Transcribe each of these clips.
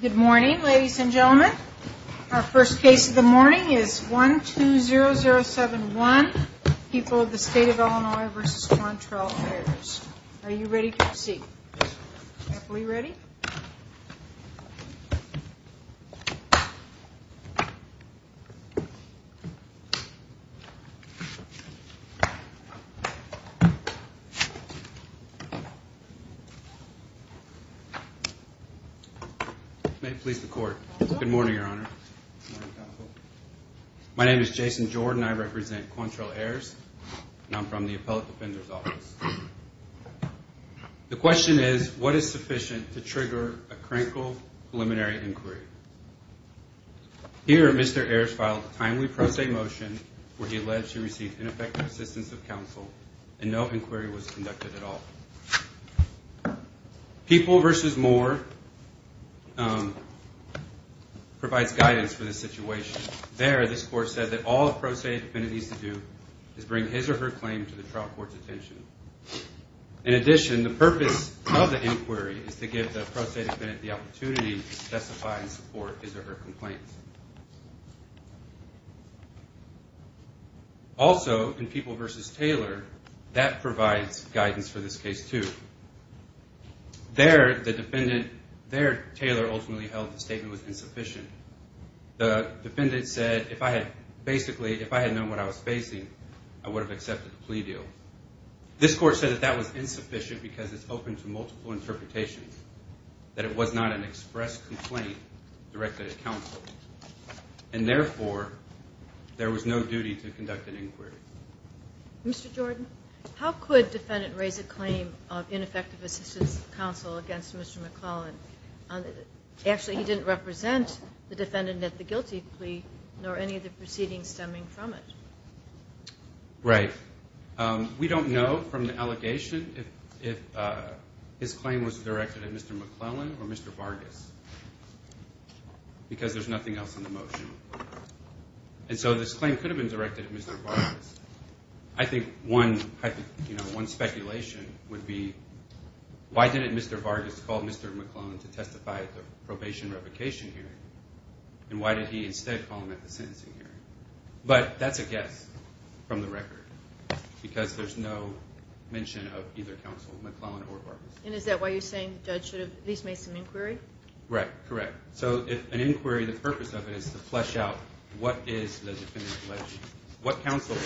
Good morning, ladies and gentlemen. Our first case of the morning is 120071, People of the State of Illinois v. Qwantrell Fares. Are you ready to proceed? May it please the Court. Good morning, Your Honor. My name is Jason Jordan. I represent Qwantrell Fares and I'm from the Appellate Defender's Office. The question is, what is sufficient to trigger a crankle preliminary inquiry? Here, Mr. Ayers filed a timely pro se motion where he alleged she received ineffective assistance of counsel and no inquiry was conducted at all. People v. Moore provides guidance for this situation. There, this Court said that all a pro se defendant needs to do is bring his or her claim to the trial court's attention. In addition, the purpose of the inquiry is to give the pro se defendant the opportunity to testify in support of his or her complaint. Also, in People v. Taylor, that provides guidance for this case, too. There, the defendant, there Taylor ultimately held the statement was insufficient. The defendant said, basically, if I had known what I was facing, I would have accepted the plea deal. This Court said that that was insufficient because it's open to multiple interpretations, that it was not an express complaint directed at counsel, and therefore, there was no duty to conduct an inquiry. Mr. Jordan, how could defendant raise a claim of ineffective assistance of counsel against Mr. McClellan? Actually, he didn't represent the defendant at the guilty plea, nor any of the proceedings stemming from it. Right. We don't know from the allegation if his claim was directed at Mr. McClellan or Mr. Vargas because there's nothing else in the motion. And so, this claim could have been directed at Mr. Vargas. I think one speculation would be, why didn't Mr. Vargas call Mr. McClellan to testify at the probation revocation hearing? And why did he instead call him at the sentencing hearing? But that's a guess from the record because there's no mention of either counsel, McClellan or Vargas. And is that why you're saying the judge should have at least made some inquiry? Right. Correct. So, if an inquiry, the purpose of it is to flesh out what is the defendant's allegation. What counsel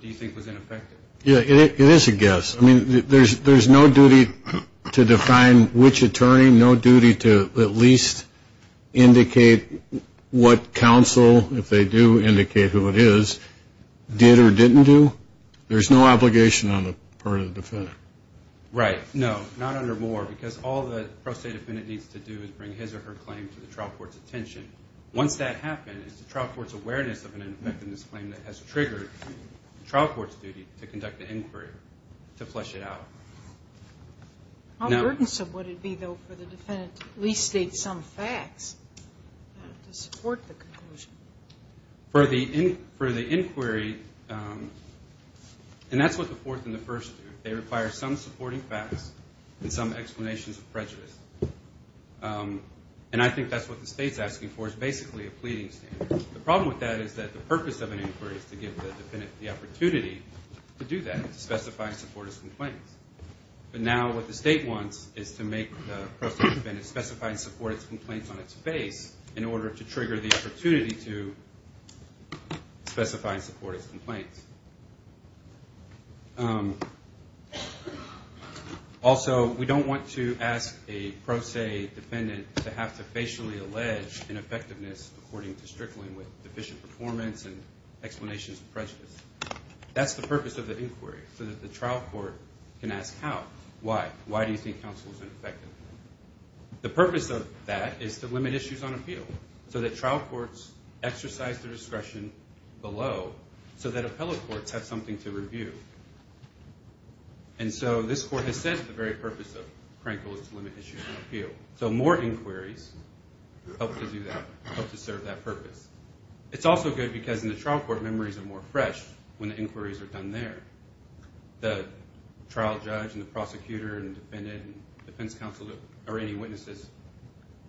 do you think was ineffective? Yeah, it is a guess. I mean, there's no duty to define which attorney, no duty to at least indicate what counsel, if they do indicate who it is, did or didn't do. There's no obligation on the part of the defendant. Right. No, not under Moore because all the pro se defendant needs to do is bring his or her claim to the trial court's attention. Once that happens, it's the trial court's awareness of an ineffectiveness claim that has triggered the trial court's duty to conduct the inquiry, to flesh it out. How burdensome would it be, though, for the defendant to at least state some facts to support the conclusion? For the inquiry, and that's what the fourth and the first do, they require some supporting facts and some explanations of prejudice. And I think that's what the state's asking for is basically a pleading standard. The problem with that is that the purpose of an inquiry is to give the defendant the opportunity to do that, to specify and support his complaints. But now what the state wants is to make the pro se defendant specify and support his complaints on its face in order to trigger the opportunity to specify and support his complaints. Also, we don't want to ask a pro se defendant to have to facially allege ineffectiveness according to Strickland with deficient performance and explanations of prejudice. That's the purpose of the inquiry, so that the trial court can ask how, why, why do you think counsel is ineffective? The purpose of that is to limit issues on appeal, so that trial courts exercise their discretion below, so that appellate courts have something to review. And so this court has said the very purpose of Crankville is to limit issues on appeal. So more inquiries help to do that, help to serve that purpose. It's also good because in the trial court, memories are more fresh when the inquiries are done there. The trial judge and the prosecutor and defendant and defense counsel or any witnesses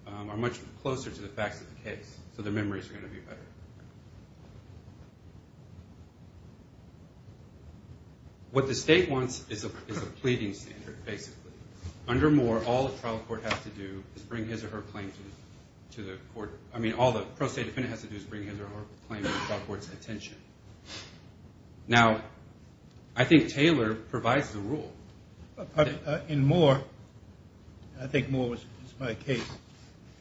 are much closer to the facts of the case, so their memories are going to be better. What the state wants is a pleading standard, basically. Under Moore, all the pro se defendant has to do is bring his or her claim to the trial court's attention. Now, I think Taylor provides the rule. In Moore, I think Moore was my case,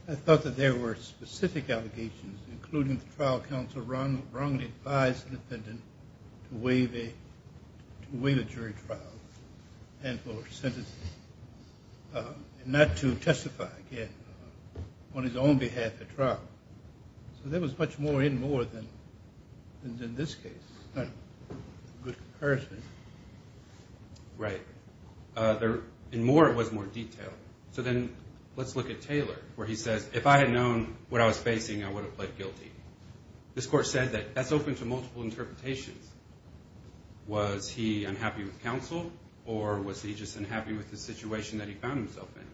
I thought that there were specific allegations, including the trial counsel wrongly advised the defendant to waive a jury trial and not to testify on his own behalf at trial. So there was much more in Moore than in this case. Right. In Moore, it was more detailed. So then let's look at Taylor, where he says, if I had known what I was facing, I would have pled guilty. This court said that that's open to multiple interpretations. Was he unhappy with counsel, or was he just unhappy with the situation that he found himself in?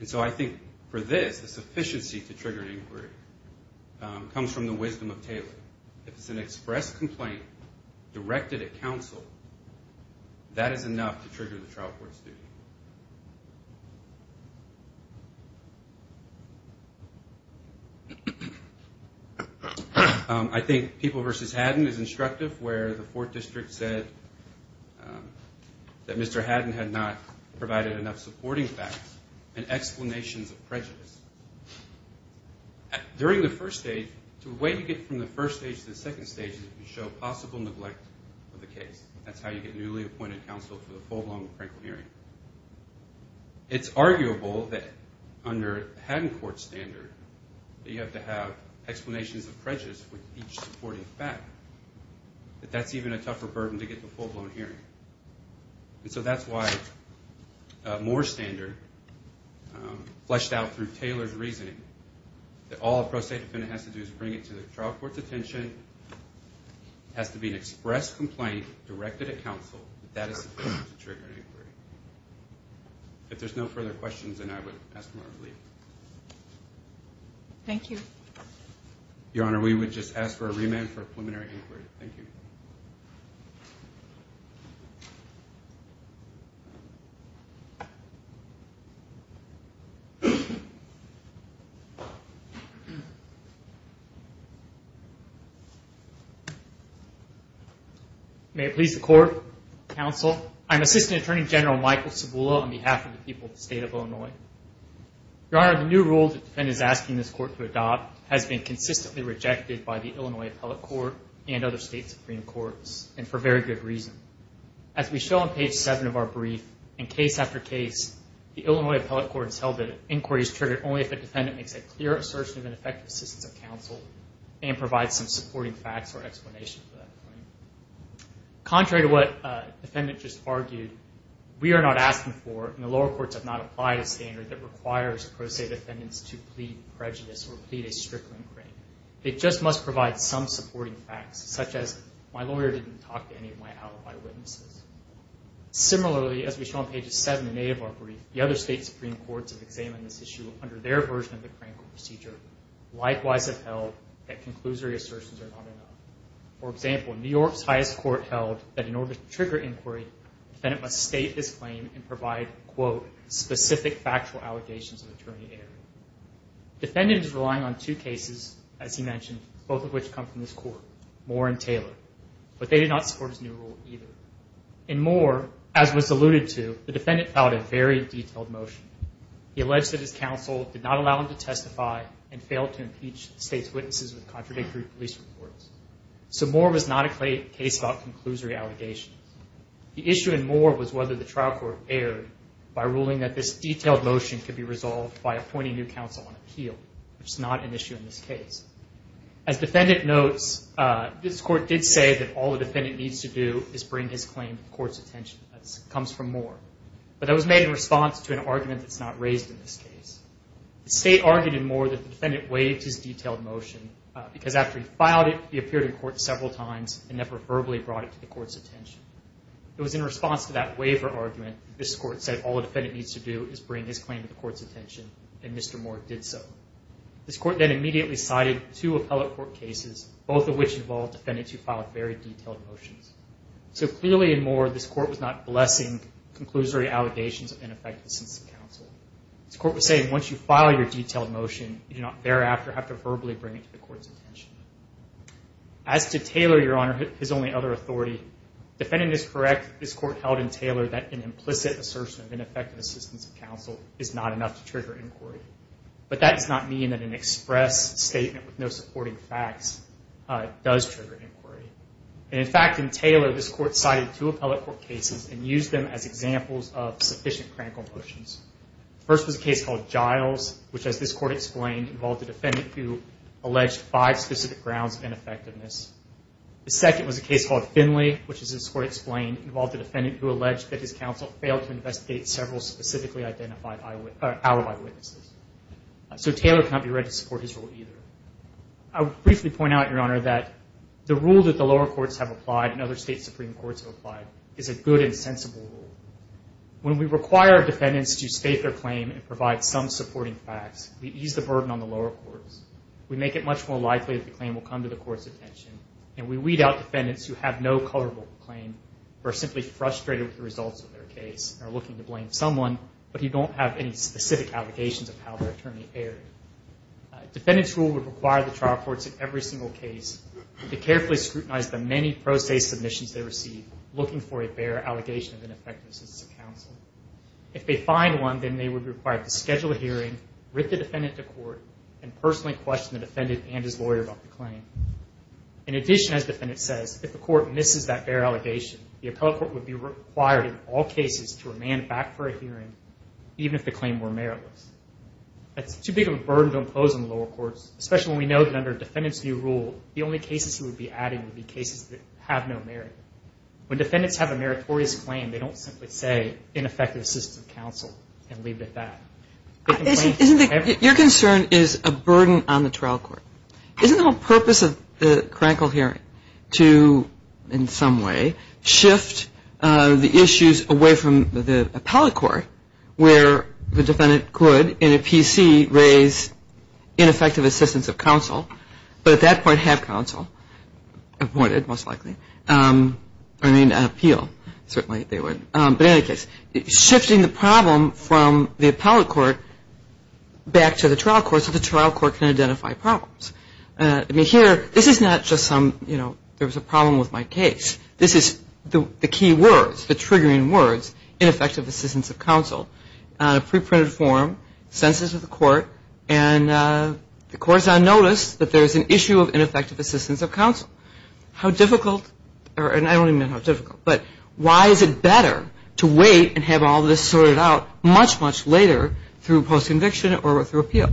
And so I think for this, the sufficiency to trigger an inquiry comes from the wisdom of Taylor. If it's an express complaint directed at counsel, that is enough to trigger the trial court's duty. I think People v. Haddon is instructive, where the 4th District said that Mr. Haddon had not provided enough supporting facts and explanations of prejudice. During the first stage, the way to get from the first stage to the second stage is to show possible neglect of the case. That's how you get newly appointed counsel for the full-blown practical hearing. It's arguable that under Haddon Court's standard, that you have to have explanations of prejudice with each supporting fact, that that's even a tougher burden to get to a full-blown hearing. And so that's why Moore's standard, fleshed out through Taylor's reasoning, that all a pro se defendant has to do is bring it to the trial court's attention. It has to be an express complaint directed at counsel. That is sufficient to trigger an inquiry. If there's no further questions, then I would ask for a leave. Your Honor, we would just ask for a remand for preliminary inquiry. Thank you. May it please the Court, Counsel, I'm Assistant Attorney General Michael Cibula on behalf of the people of the State of Illinois. Your Honor, the new rule the defendant is asking this Court to adopt has been consistently rejected by the Illinois Appellate Court and other State Supreme Courts, and for very good reason. As we show on page 7 of our brief, in case after case, the Illinois Appellate Court has held that an inquiry is triggered only if a defendant makes a clear assertion of ineffective assistance of counsel and provides some supporting facts. Contrary to what the defendant just argued, we are not asking for, and the lower courts have not applied a standard that requires pro se defendants to plead prejudice or plead a strickling claim. It just must provide some supporting facts, such as, my lawyer didn't talk to any of my alibi witnesses. Similarly, as we show on pages 7 and 8 of our brief, the other State Supreme Courts have examined this issue under their version of the Crankle Procedure, likewise have held that conclusory assertions are not required. For example, New York's highest court held that in order to trigger inquiry, the defendant must state his claim and provide, quote, specific factual allegations of attorney error. The defendant is relying on two cases, as he mentioned, both of which come from this Court, Moore and Taylor, but they did not support his new rule either. In Moore, as was alluded to, the defendant filed a very detailed motion. He alleged that his counsel did not allow him to testify and failed to impeach the State's witnesses with contradictory police reports. So Moore was not a case about conclusory allegations. The issue in Moore was whether the trial court erred by ruling that this detailed motion could be resolved by appointing new counsel on appeal, which is not an issue in this case. As the defendant notes, this Court did say that all the defendant needs to do is bring his claim to the Court's attention. That comes from Moore, but that was made in response to an argument that's not raised in this case. The State argued in Moore that the defendant waived his detailed motion because after he filed it, he appeared in court several times and never verbally brought it to the Court's attention. It was in response to that waiver argument that this Court said all the defendant needs to do is bring his claim to the Court's attention, and Mr. Moore did so. This Court then immediately cited two appellate court cases, both of which involved defendants who filed very detailed motions. So clearly in Moore, this Court was not blessing conclusory allegations of ineffective assistance of counsel. This Court was saying once you file your detailed motion, you do not thereafter have to verbally bring it to the Court's attention. As to Taylor, Your Honor, his only other authority, the defendant is correct that this Court held in Taylor that an implicit assertion of ineffective assistance of counsel is not enough to trigger inquiry. But that does not mean that an express statement with no supporting facts does trigger inquiry. And in fact, in Taylor, this Court cited two appellate court cases and used them as examples of sufficient critical motions. The first was a case called Giles, which as this Court explained, involved a defendant who alleged five specific grounds of ineffectiveness. The second was a case called Finley, which as this Court explained, involved a defendant who alleged that his counsel failed to investigate several specifically identified alibi witnesses. So Taylor cannot be read to support his rule either. I would briefly point out, Your Honor, that the rule that the lower courts have applied and other State Supreme Courts have applied is a good and sensible rule. When we require defendants to state their claim and provide some supporting facts, we ease the burden on the lower courts. We make it much more likely that the claim will come to the Court's attention, and we weed out defendants who have no coverable claim or are simply frustrated with the results of their case and are looking to blame someone, but who don't have any specific allegations of how their attorney erred. A defendant's rule would require the trial courts in every single case to carefully scrutinize the many pro se submissions they receive, looking for a bare allegation of ineffectiveness to counsel. If they find one, then they would be required to schedule a hearing, writ the defendant to court, and personally question the defendant and his lawyer about the claim. In addition, as the defendant says, if the court misses that bare allegation, the appellate court would be required in all cases to remand back for a hearing, even if the claim were meritless. That's too big of a burden to impose on the lower courts, especially when we know that under a defendant's new rule, the only cases he would be adding would be cases that have no merit. When defendants have a meritorious claim, they don't simply say, ineffective assistance of counsel, and leave it at that. Your concern is a burden on the trial court. Isn't the whole purpose of the Krankel hearing to, in some way, shift the issues away from the appellate court, where the defendant could, in some way, in a PC, raise ineffective assistance of counsel, but at that point have counsel appointed, most likely, or need an appeal, certainly they would. But in any case, shifting the problem from the appellate court back to the trial court so the trial court can identify problems. I mean, here, this is not just some, you know, there was a problem with my case. This is the key words, the triggering words, ineffective assistance of counsel, pre-printed form, census of the court, and the court's on notice that there's an issue of ineffective assistance of counsel. How difficult, and I don't even know how difficult, but why is it better to wait and have all this sorted out much, much later through post-conviction or through appeal?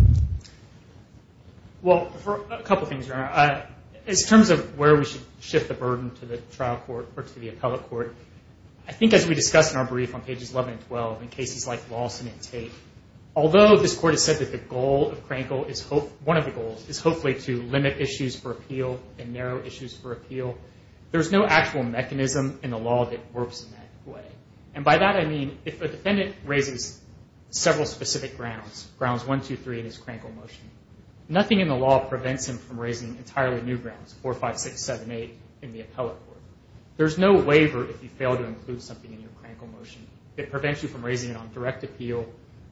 Well, a couple things, Your Honor. In terms of where we should shift the burden to the trial court or to the appellate court, I think as we discussed in our brief on pages 11 and 12, in cases like Lawson and Tate, although this court has said that the goal of Krankel, one of the goals, is hopefully to limit issues for appeal and narrow issues for appeal, there's no actual mechanism in the law that works in that way. And by that I mean if a defendant raises several specific grounds, grounds 1, 2, 3 in his Krankel motion, nothing in the law prevents him from raising entirely new grounds, 4, 5, 6, 7, 8, in the appellate court. There's no waiver if you fail to include something in your Krankel motion that prevents you from raising it on direct appeal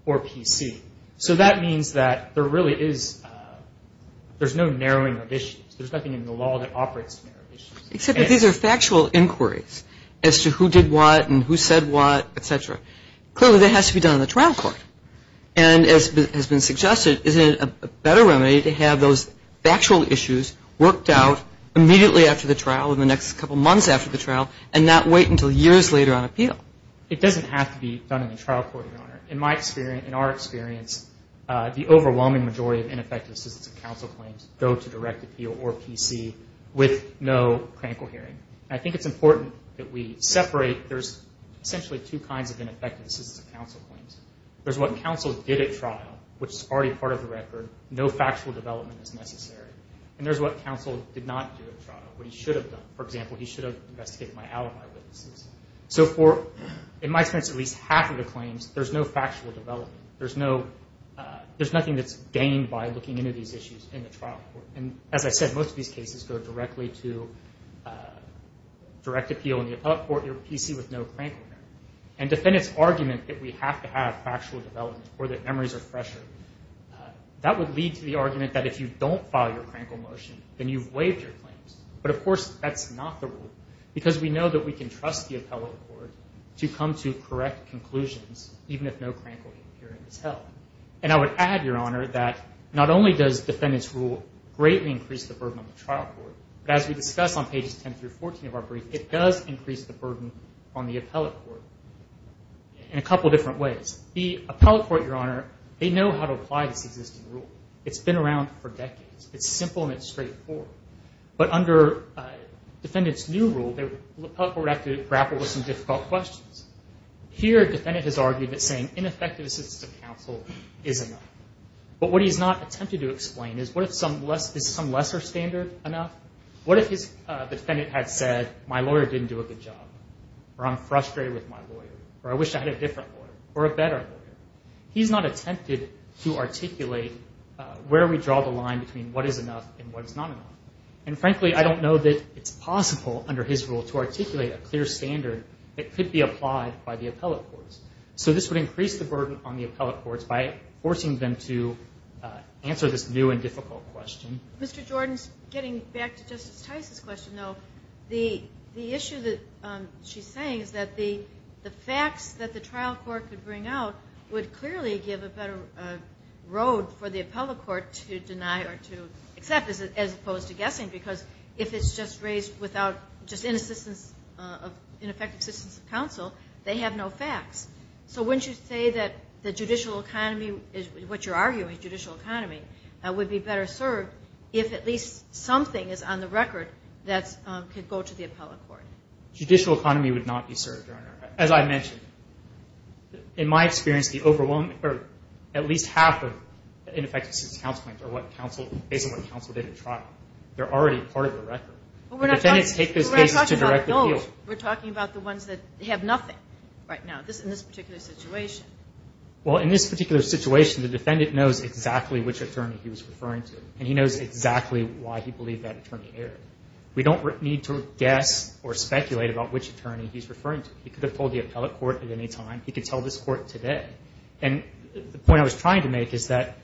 or PC. So that means that there really is no narrowing of issues. There's nothing in the law that operates to narrow issues. Except that these are factual inquiries as to who did what and who said what, et cetera. Clearly that has to be done in the trial court. And as has been suggested, isn't it a better remedy to have those factual issues worked out immediately after the trial in the next couple months after the trial and not wait until years later on appeal? It doesn't have to be done in the trial court, Your Honor. In my experience, in our experience, the overwhelming majority of ineffective assistance of counsel claims go to direct appeal or PC with no Krankel hearing. And I think it's important that we separate. There's essentially two kinds of ineffective assistance of counsel claims. There's what counsel did at trial, which is already part of the record. No factual development is necessary. And there's what counsel did not do at trial, what he should have done. For example, he should have investigated my alibi witnesses. So for, in my sense, at least half of the claims, there's no factual development. There's nothing that's gained by looking into these issues in the trial court. And as I said, most of these cases go directly to direct appeal in the appellate court or PC with no Krankel hearing. And defendants' argument that we have to have factual development or that memories are fresher, that would lead to the argument that if you don't file your Krankel motion, then you've waived your claims. But, of course, that's not the rule, because we know that we can trust the appellate court to come to correct conclusions, even if no Krankel hearing is held. And I would add, Your Honor, that not only does defendant's rule greatly increase the burden on the trial court, but as we discussed on pages 10 through 14 of our brief, it does increase the burden on the appellate court in a couple different ways. The appellate court, Your Honor, they know how to apply this existing rule. It's been around for decades. It's simple and it's straightforward. But under defendant's new rule, the appellate court would have to grapple with some difficult questions. Here, defendant has argued that saying ineffective assistance to counsel is enough. But what he's not attempted to explain is what if some lesser standard is enough? What if the defendant had said, my lawyer didn't do a good job, or I'm frustrated with my lawyer, or I wish I had a different lawyer, or a better lawyer? He's not attempted to articulate where we draw the line between what is enough and what is not enough. And frankly, I don't know that it's possible under his rule to articulate a clear standard that could be applied by the appellate courts. So this would increase the burden on the appellate courts by forcing them to answer this new and difficult question. Mr. Jordan's getting back to Justice Tice's question, though. The issue that she's saying is that the facts that the trial court could bring out would clearly give a better road for the appellate court to deny or to accept, as opposed to guessing, because if it's just raised without just ineffective assistance of counsel, they have no facts. So wouldn't you say that the judicial economy, what you're arguing, judicial economy, would be better served if at least something is on the record that's not on the record that could go to the appellate court? Judicial economy would not be served, Your Honor. As I mentioned, in my experience, at least half of ineffective assistance of counsel claims are based on what counsel did at trial. They're already part of the record. The defendants take those cases to direct appeal. We're not talking about the gold. We're talking about the ones that have nothing right now, in this particular situation. Well, in this particular situation, the defendant knows exactly which attorney he was referring to, and he knows exactly why he believed that attorney erred. We don't need to guess or speculate about which attorney he's referring to. He could have told the appellate court at any time. He could tell this court today. And the point I was trying to make is that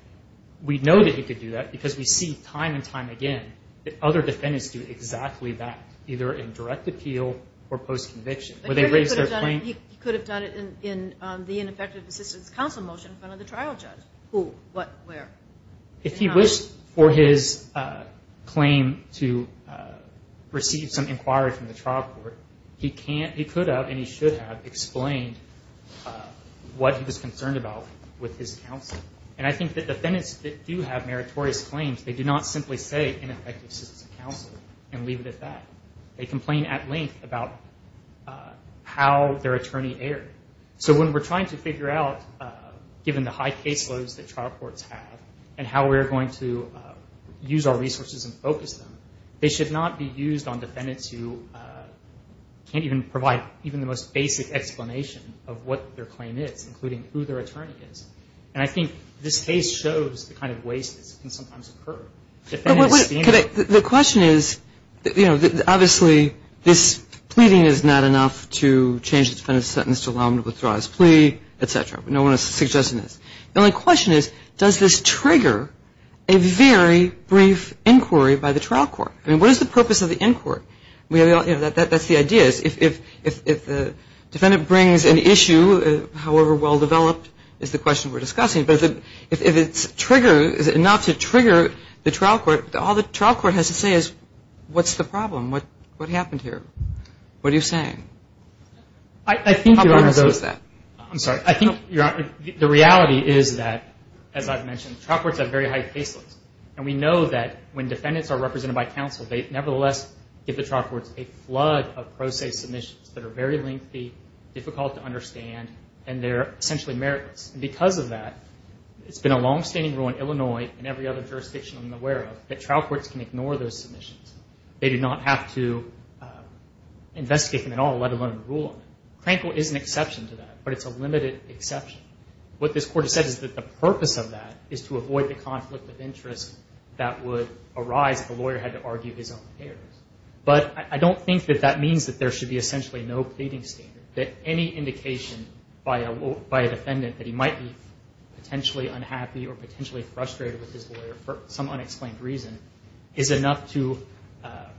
we know that he could do that because we see time and time again that other defendants do exactly that, either in direct appeal or post-conviction. He could have done it in the ineffective assistance of counsel motion in front of the trial judge. If he wished for his claim to receive some inquiry from the trial court, he could have and he should have explained what he was concerned about with his counsel. And I think that defendants that do have meritorious claims, they do not simply say ineffective assistance of counsel and leave it at that. They complain at length about how their attorney erred. So when we're trying to figure out, given the high caseloads that trial courts have and how we're going to use our resources and focus them, they should not be used on defendants who can't even provide even the most basic explanation of what their claim is, including who their attorney is. And I think this case shows the kind of waste that can sometimes occur. The question is, you know, obviously this pleading is not enough to change the defendant's sentence to allow him to withdraw his plea, et cetera. No one is suggesting this. The only question is, does this trigger a very brief inquiry by the trial court? I mean, what is the purpose of the inquiry? You know, that's the idea is if the defendant brings an issue, however well developed, is the question we're discussing. But if it's enough to trigger the trial court, all the trial court has to say is, what's the problem? What happened here? What are you saying? I think the reality is that, as I've mentioned, trial courts have very high caseloads. And we know that when defendants are represented by counsel, they nevertheless give the trial courts a flood of pro se submissions that are very lengthy, difficult to understand, and they're essentially meritless. And because of that, it's been a longstanding rule in Illinois and every other jurisdiction I'm aware of, that trial courts can ignore those submissions. They do not have to investigate them at all, let alone rule on them. Crankville is an exception to that, but it's a limited exception. What this court has said is that the purpose of that is to avoid the conflict of interest that would arise if a lawyer had to argue his own case. But I don't think that that means that there should be essentially no pleading standard, that any indication by a defendant that he might be potentially unhappy or potentially frustrated with his lawyer for some unexplained reason is enough to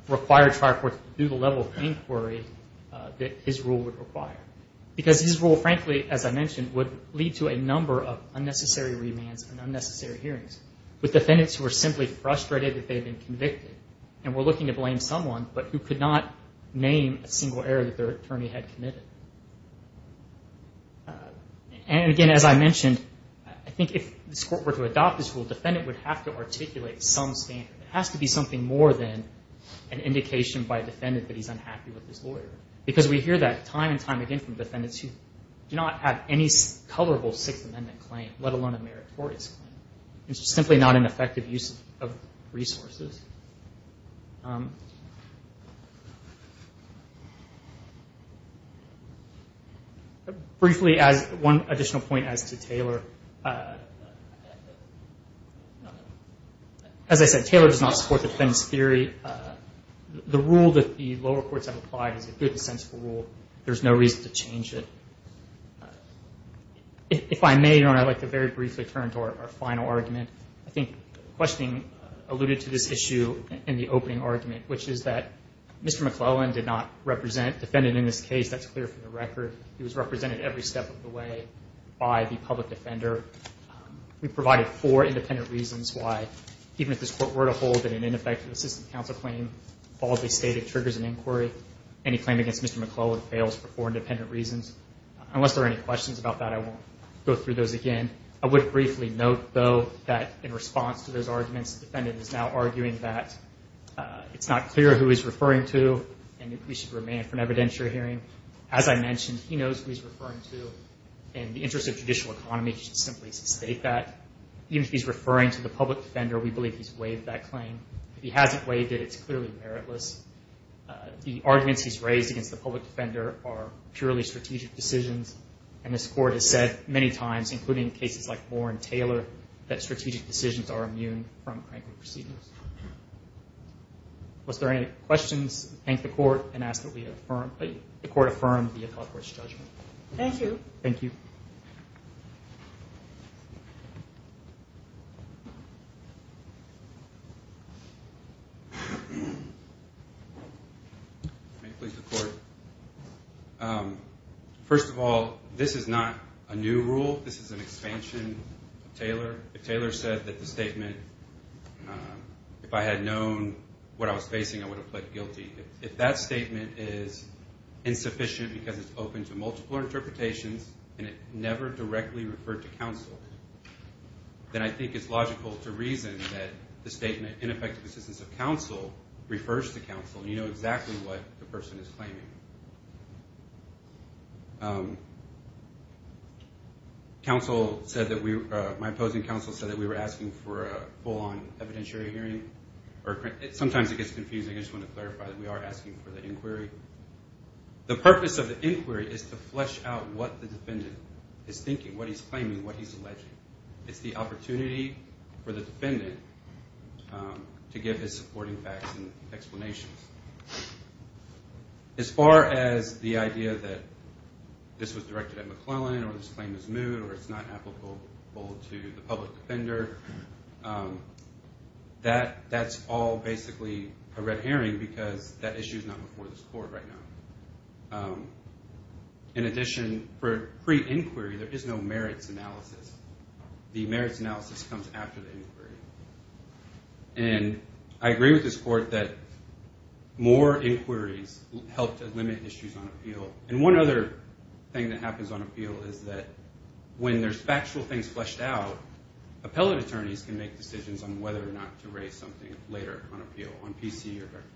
require trial courts to do the level of inquiry that his rule would require. Because his rule, frankly, as I mentioned, would lead to a number of unnecessary remands and unnecessary hearings. With defendants who are simply frustrated that they've been convicted and were looking to blame someone, but who could not name a single error that their attorney had committed. And again, as I mentioned, I think if this court were to adopt this rule, a defendant would have to articulate some standard. It has to be something more than an indication by a defendant that he's unhappy with his lawyer. Because we hear that time and time again from defendants who do not have any colorable Sixth Amendment claim, let alone a meritorious claim. It's simply not an effective use of resources. Briefly, one additional point as to Taylor. As I said, Taylor does not support the defendants' theory. The rule that the lower courts have applied is a good and sensible rule. There's no reason to change it. If I may, Your Honor, I'd like to very briefly turn to our final argument. I think questioning alluded to this issue in the opening argument, which is that Mr. McClellan did not represent a defendant in this case. That's clear from the record. He was represented every step of the way by the public defender. We provided four independent reasons why, even if this court were to hold that an ineffective assistant counsel claim boldly stated triggers an inquiry, any claim against Mr. McClellan fails for four independent reasons. Unless there are any questions about that, I won't go through those again. I would briefly note, though, that in response to those arguments, the defendant is now arguing that it's not clear who he's referring to, and we should remain it for an evidentiary hearing. As I mentioned, he knows who he's referring to, and in the interest of judicial economy, he should simply state that. Even if he's referring to the public defender, we believe he's waived that claim. If he hasn't waived it, it's clearly meritless. The arguments he's raised against the public defender are purely strategic decisions, and this court has said many times, including cases like Warren Taylor, that strategic decisions are immune from crankwood proceedings. Unless there are any questions, thank the court, and ask that the court affirm the appellate court's judgment. Thank you. First of all, this is not a new rule. This is an expansion of Taylor. If Taylor said that the statement, if I had known what I was facing, I would have pled guilty. If that statement is insufficient because it's open to multiple interpretations, and it never directly referred to counsel, then I think it's logical to reason that the statement, ineffective assistance of counsel, refers to the defendant. My opposing counsel said that we were asking for a full-on evidentiary hearing. Sometimes it gets confusing. I just want to clarify that we are asking for the inquiry. The purpose of the inquiry is to flesh out what the defendant is thinking, what he's claiming, what he's alleging. It's the opportunity for the defendant to give his supporting facts and evidence. As far as the idea that this was directed at McClellan, or this claim is moot, or it's not applicable to the public defender, that's all basically a red herring because that issue is not before this court right now. In addition, for pre-inquiry, there is no merits analysis. The merits analysis comes after the inquiry. I agree with this court that more inquiries help to limit issues on appeal. One other thing that happens on appeal is that when there's factual things fleshed out, appellate attorneys can make decisions on whether or not to raise something later on appeal, on PC or direct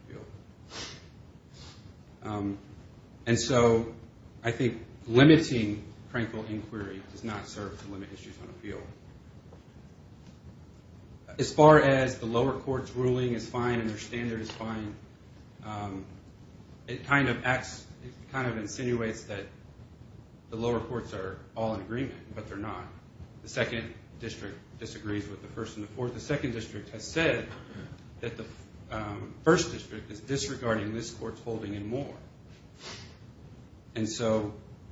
appeal. I think limiting crankle inquiry does not serve to limit issues on appeal. As far as the lower court's ruling is fine and their standard is fine, it kind of insinuates that the lower courts are all in agreement, but they're not. The second district disagrees with the first and the fourth. The second district has said that the first district is disregarding this court's holding and more.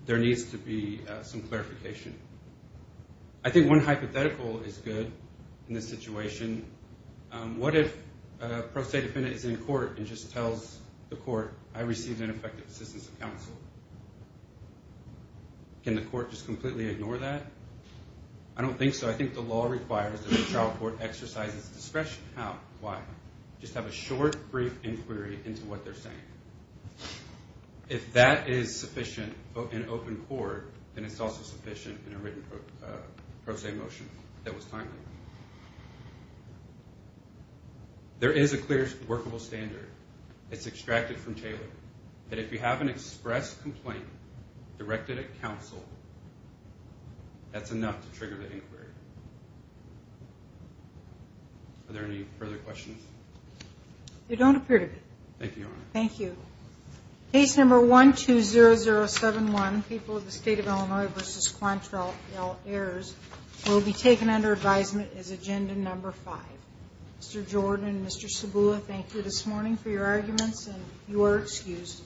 There needs to be some clarification. I think one hypothetical is good in this situation. What if a pro se defendant is in court and just tells the court, I received ineffective assistance of counsel? Can the court just completely ignore that? I don't think so. I think the law requires that the trial court exercises discretion. How? Why? Just have a short, brief inquiry into what they're saying. If that is sufficient in open court, then it's also sufficient in a written pro se motion that was timely. There is a clear workable standard. It's extracted from Taylor. If you have an express complaint directed at counsel, that's enough to trigger the inquiry. Are there any further questions? There don't appear to be. Thank you, Your Honor. Thank you. Case number 120071, People of the State of Illinois v. Quantrell, heirs, will be taken under advisement. The court has ruled that the defendant is guilty of the following crimes. The following is agenda number 5. Mr. Jordan, Mr. Sabula, thank you this morning for your arguments, and you are excused.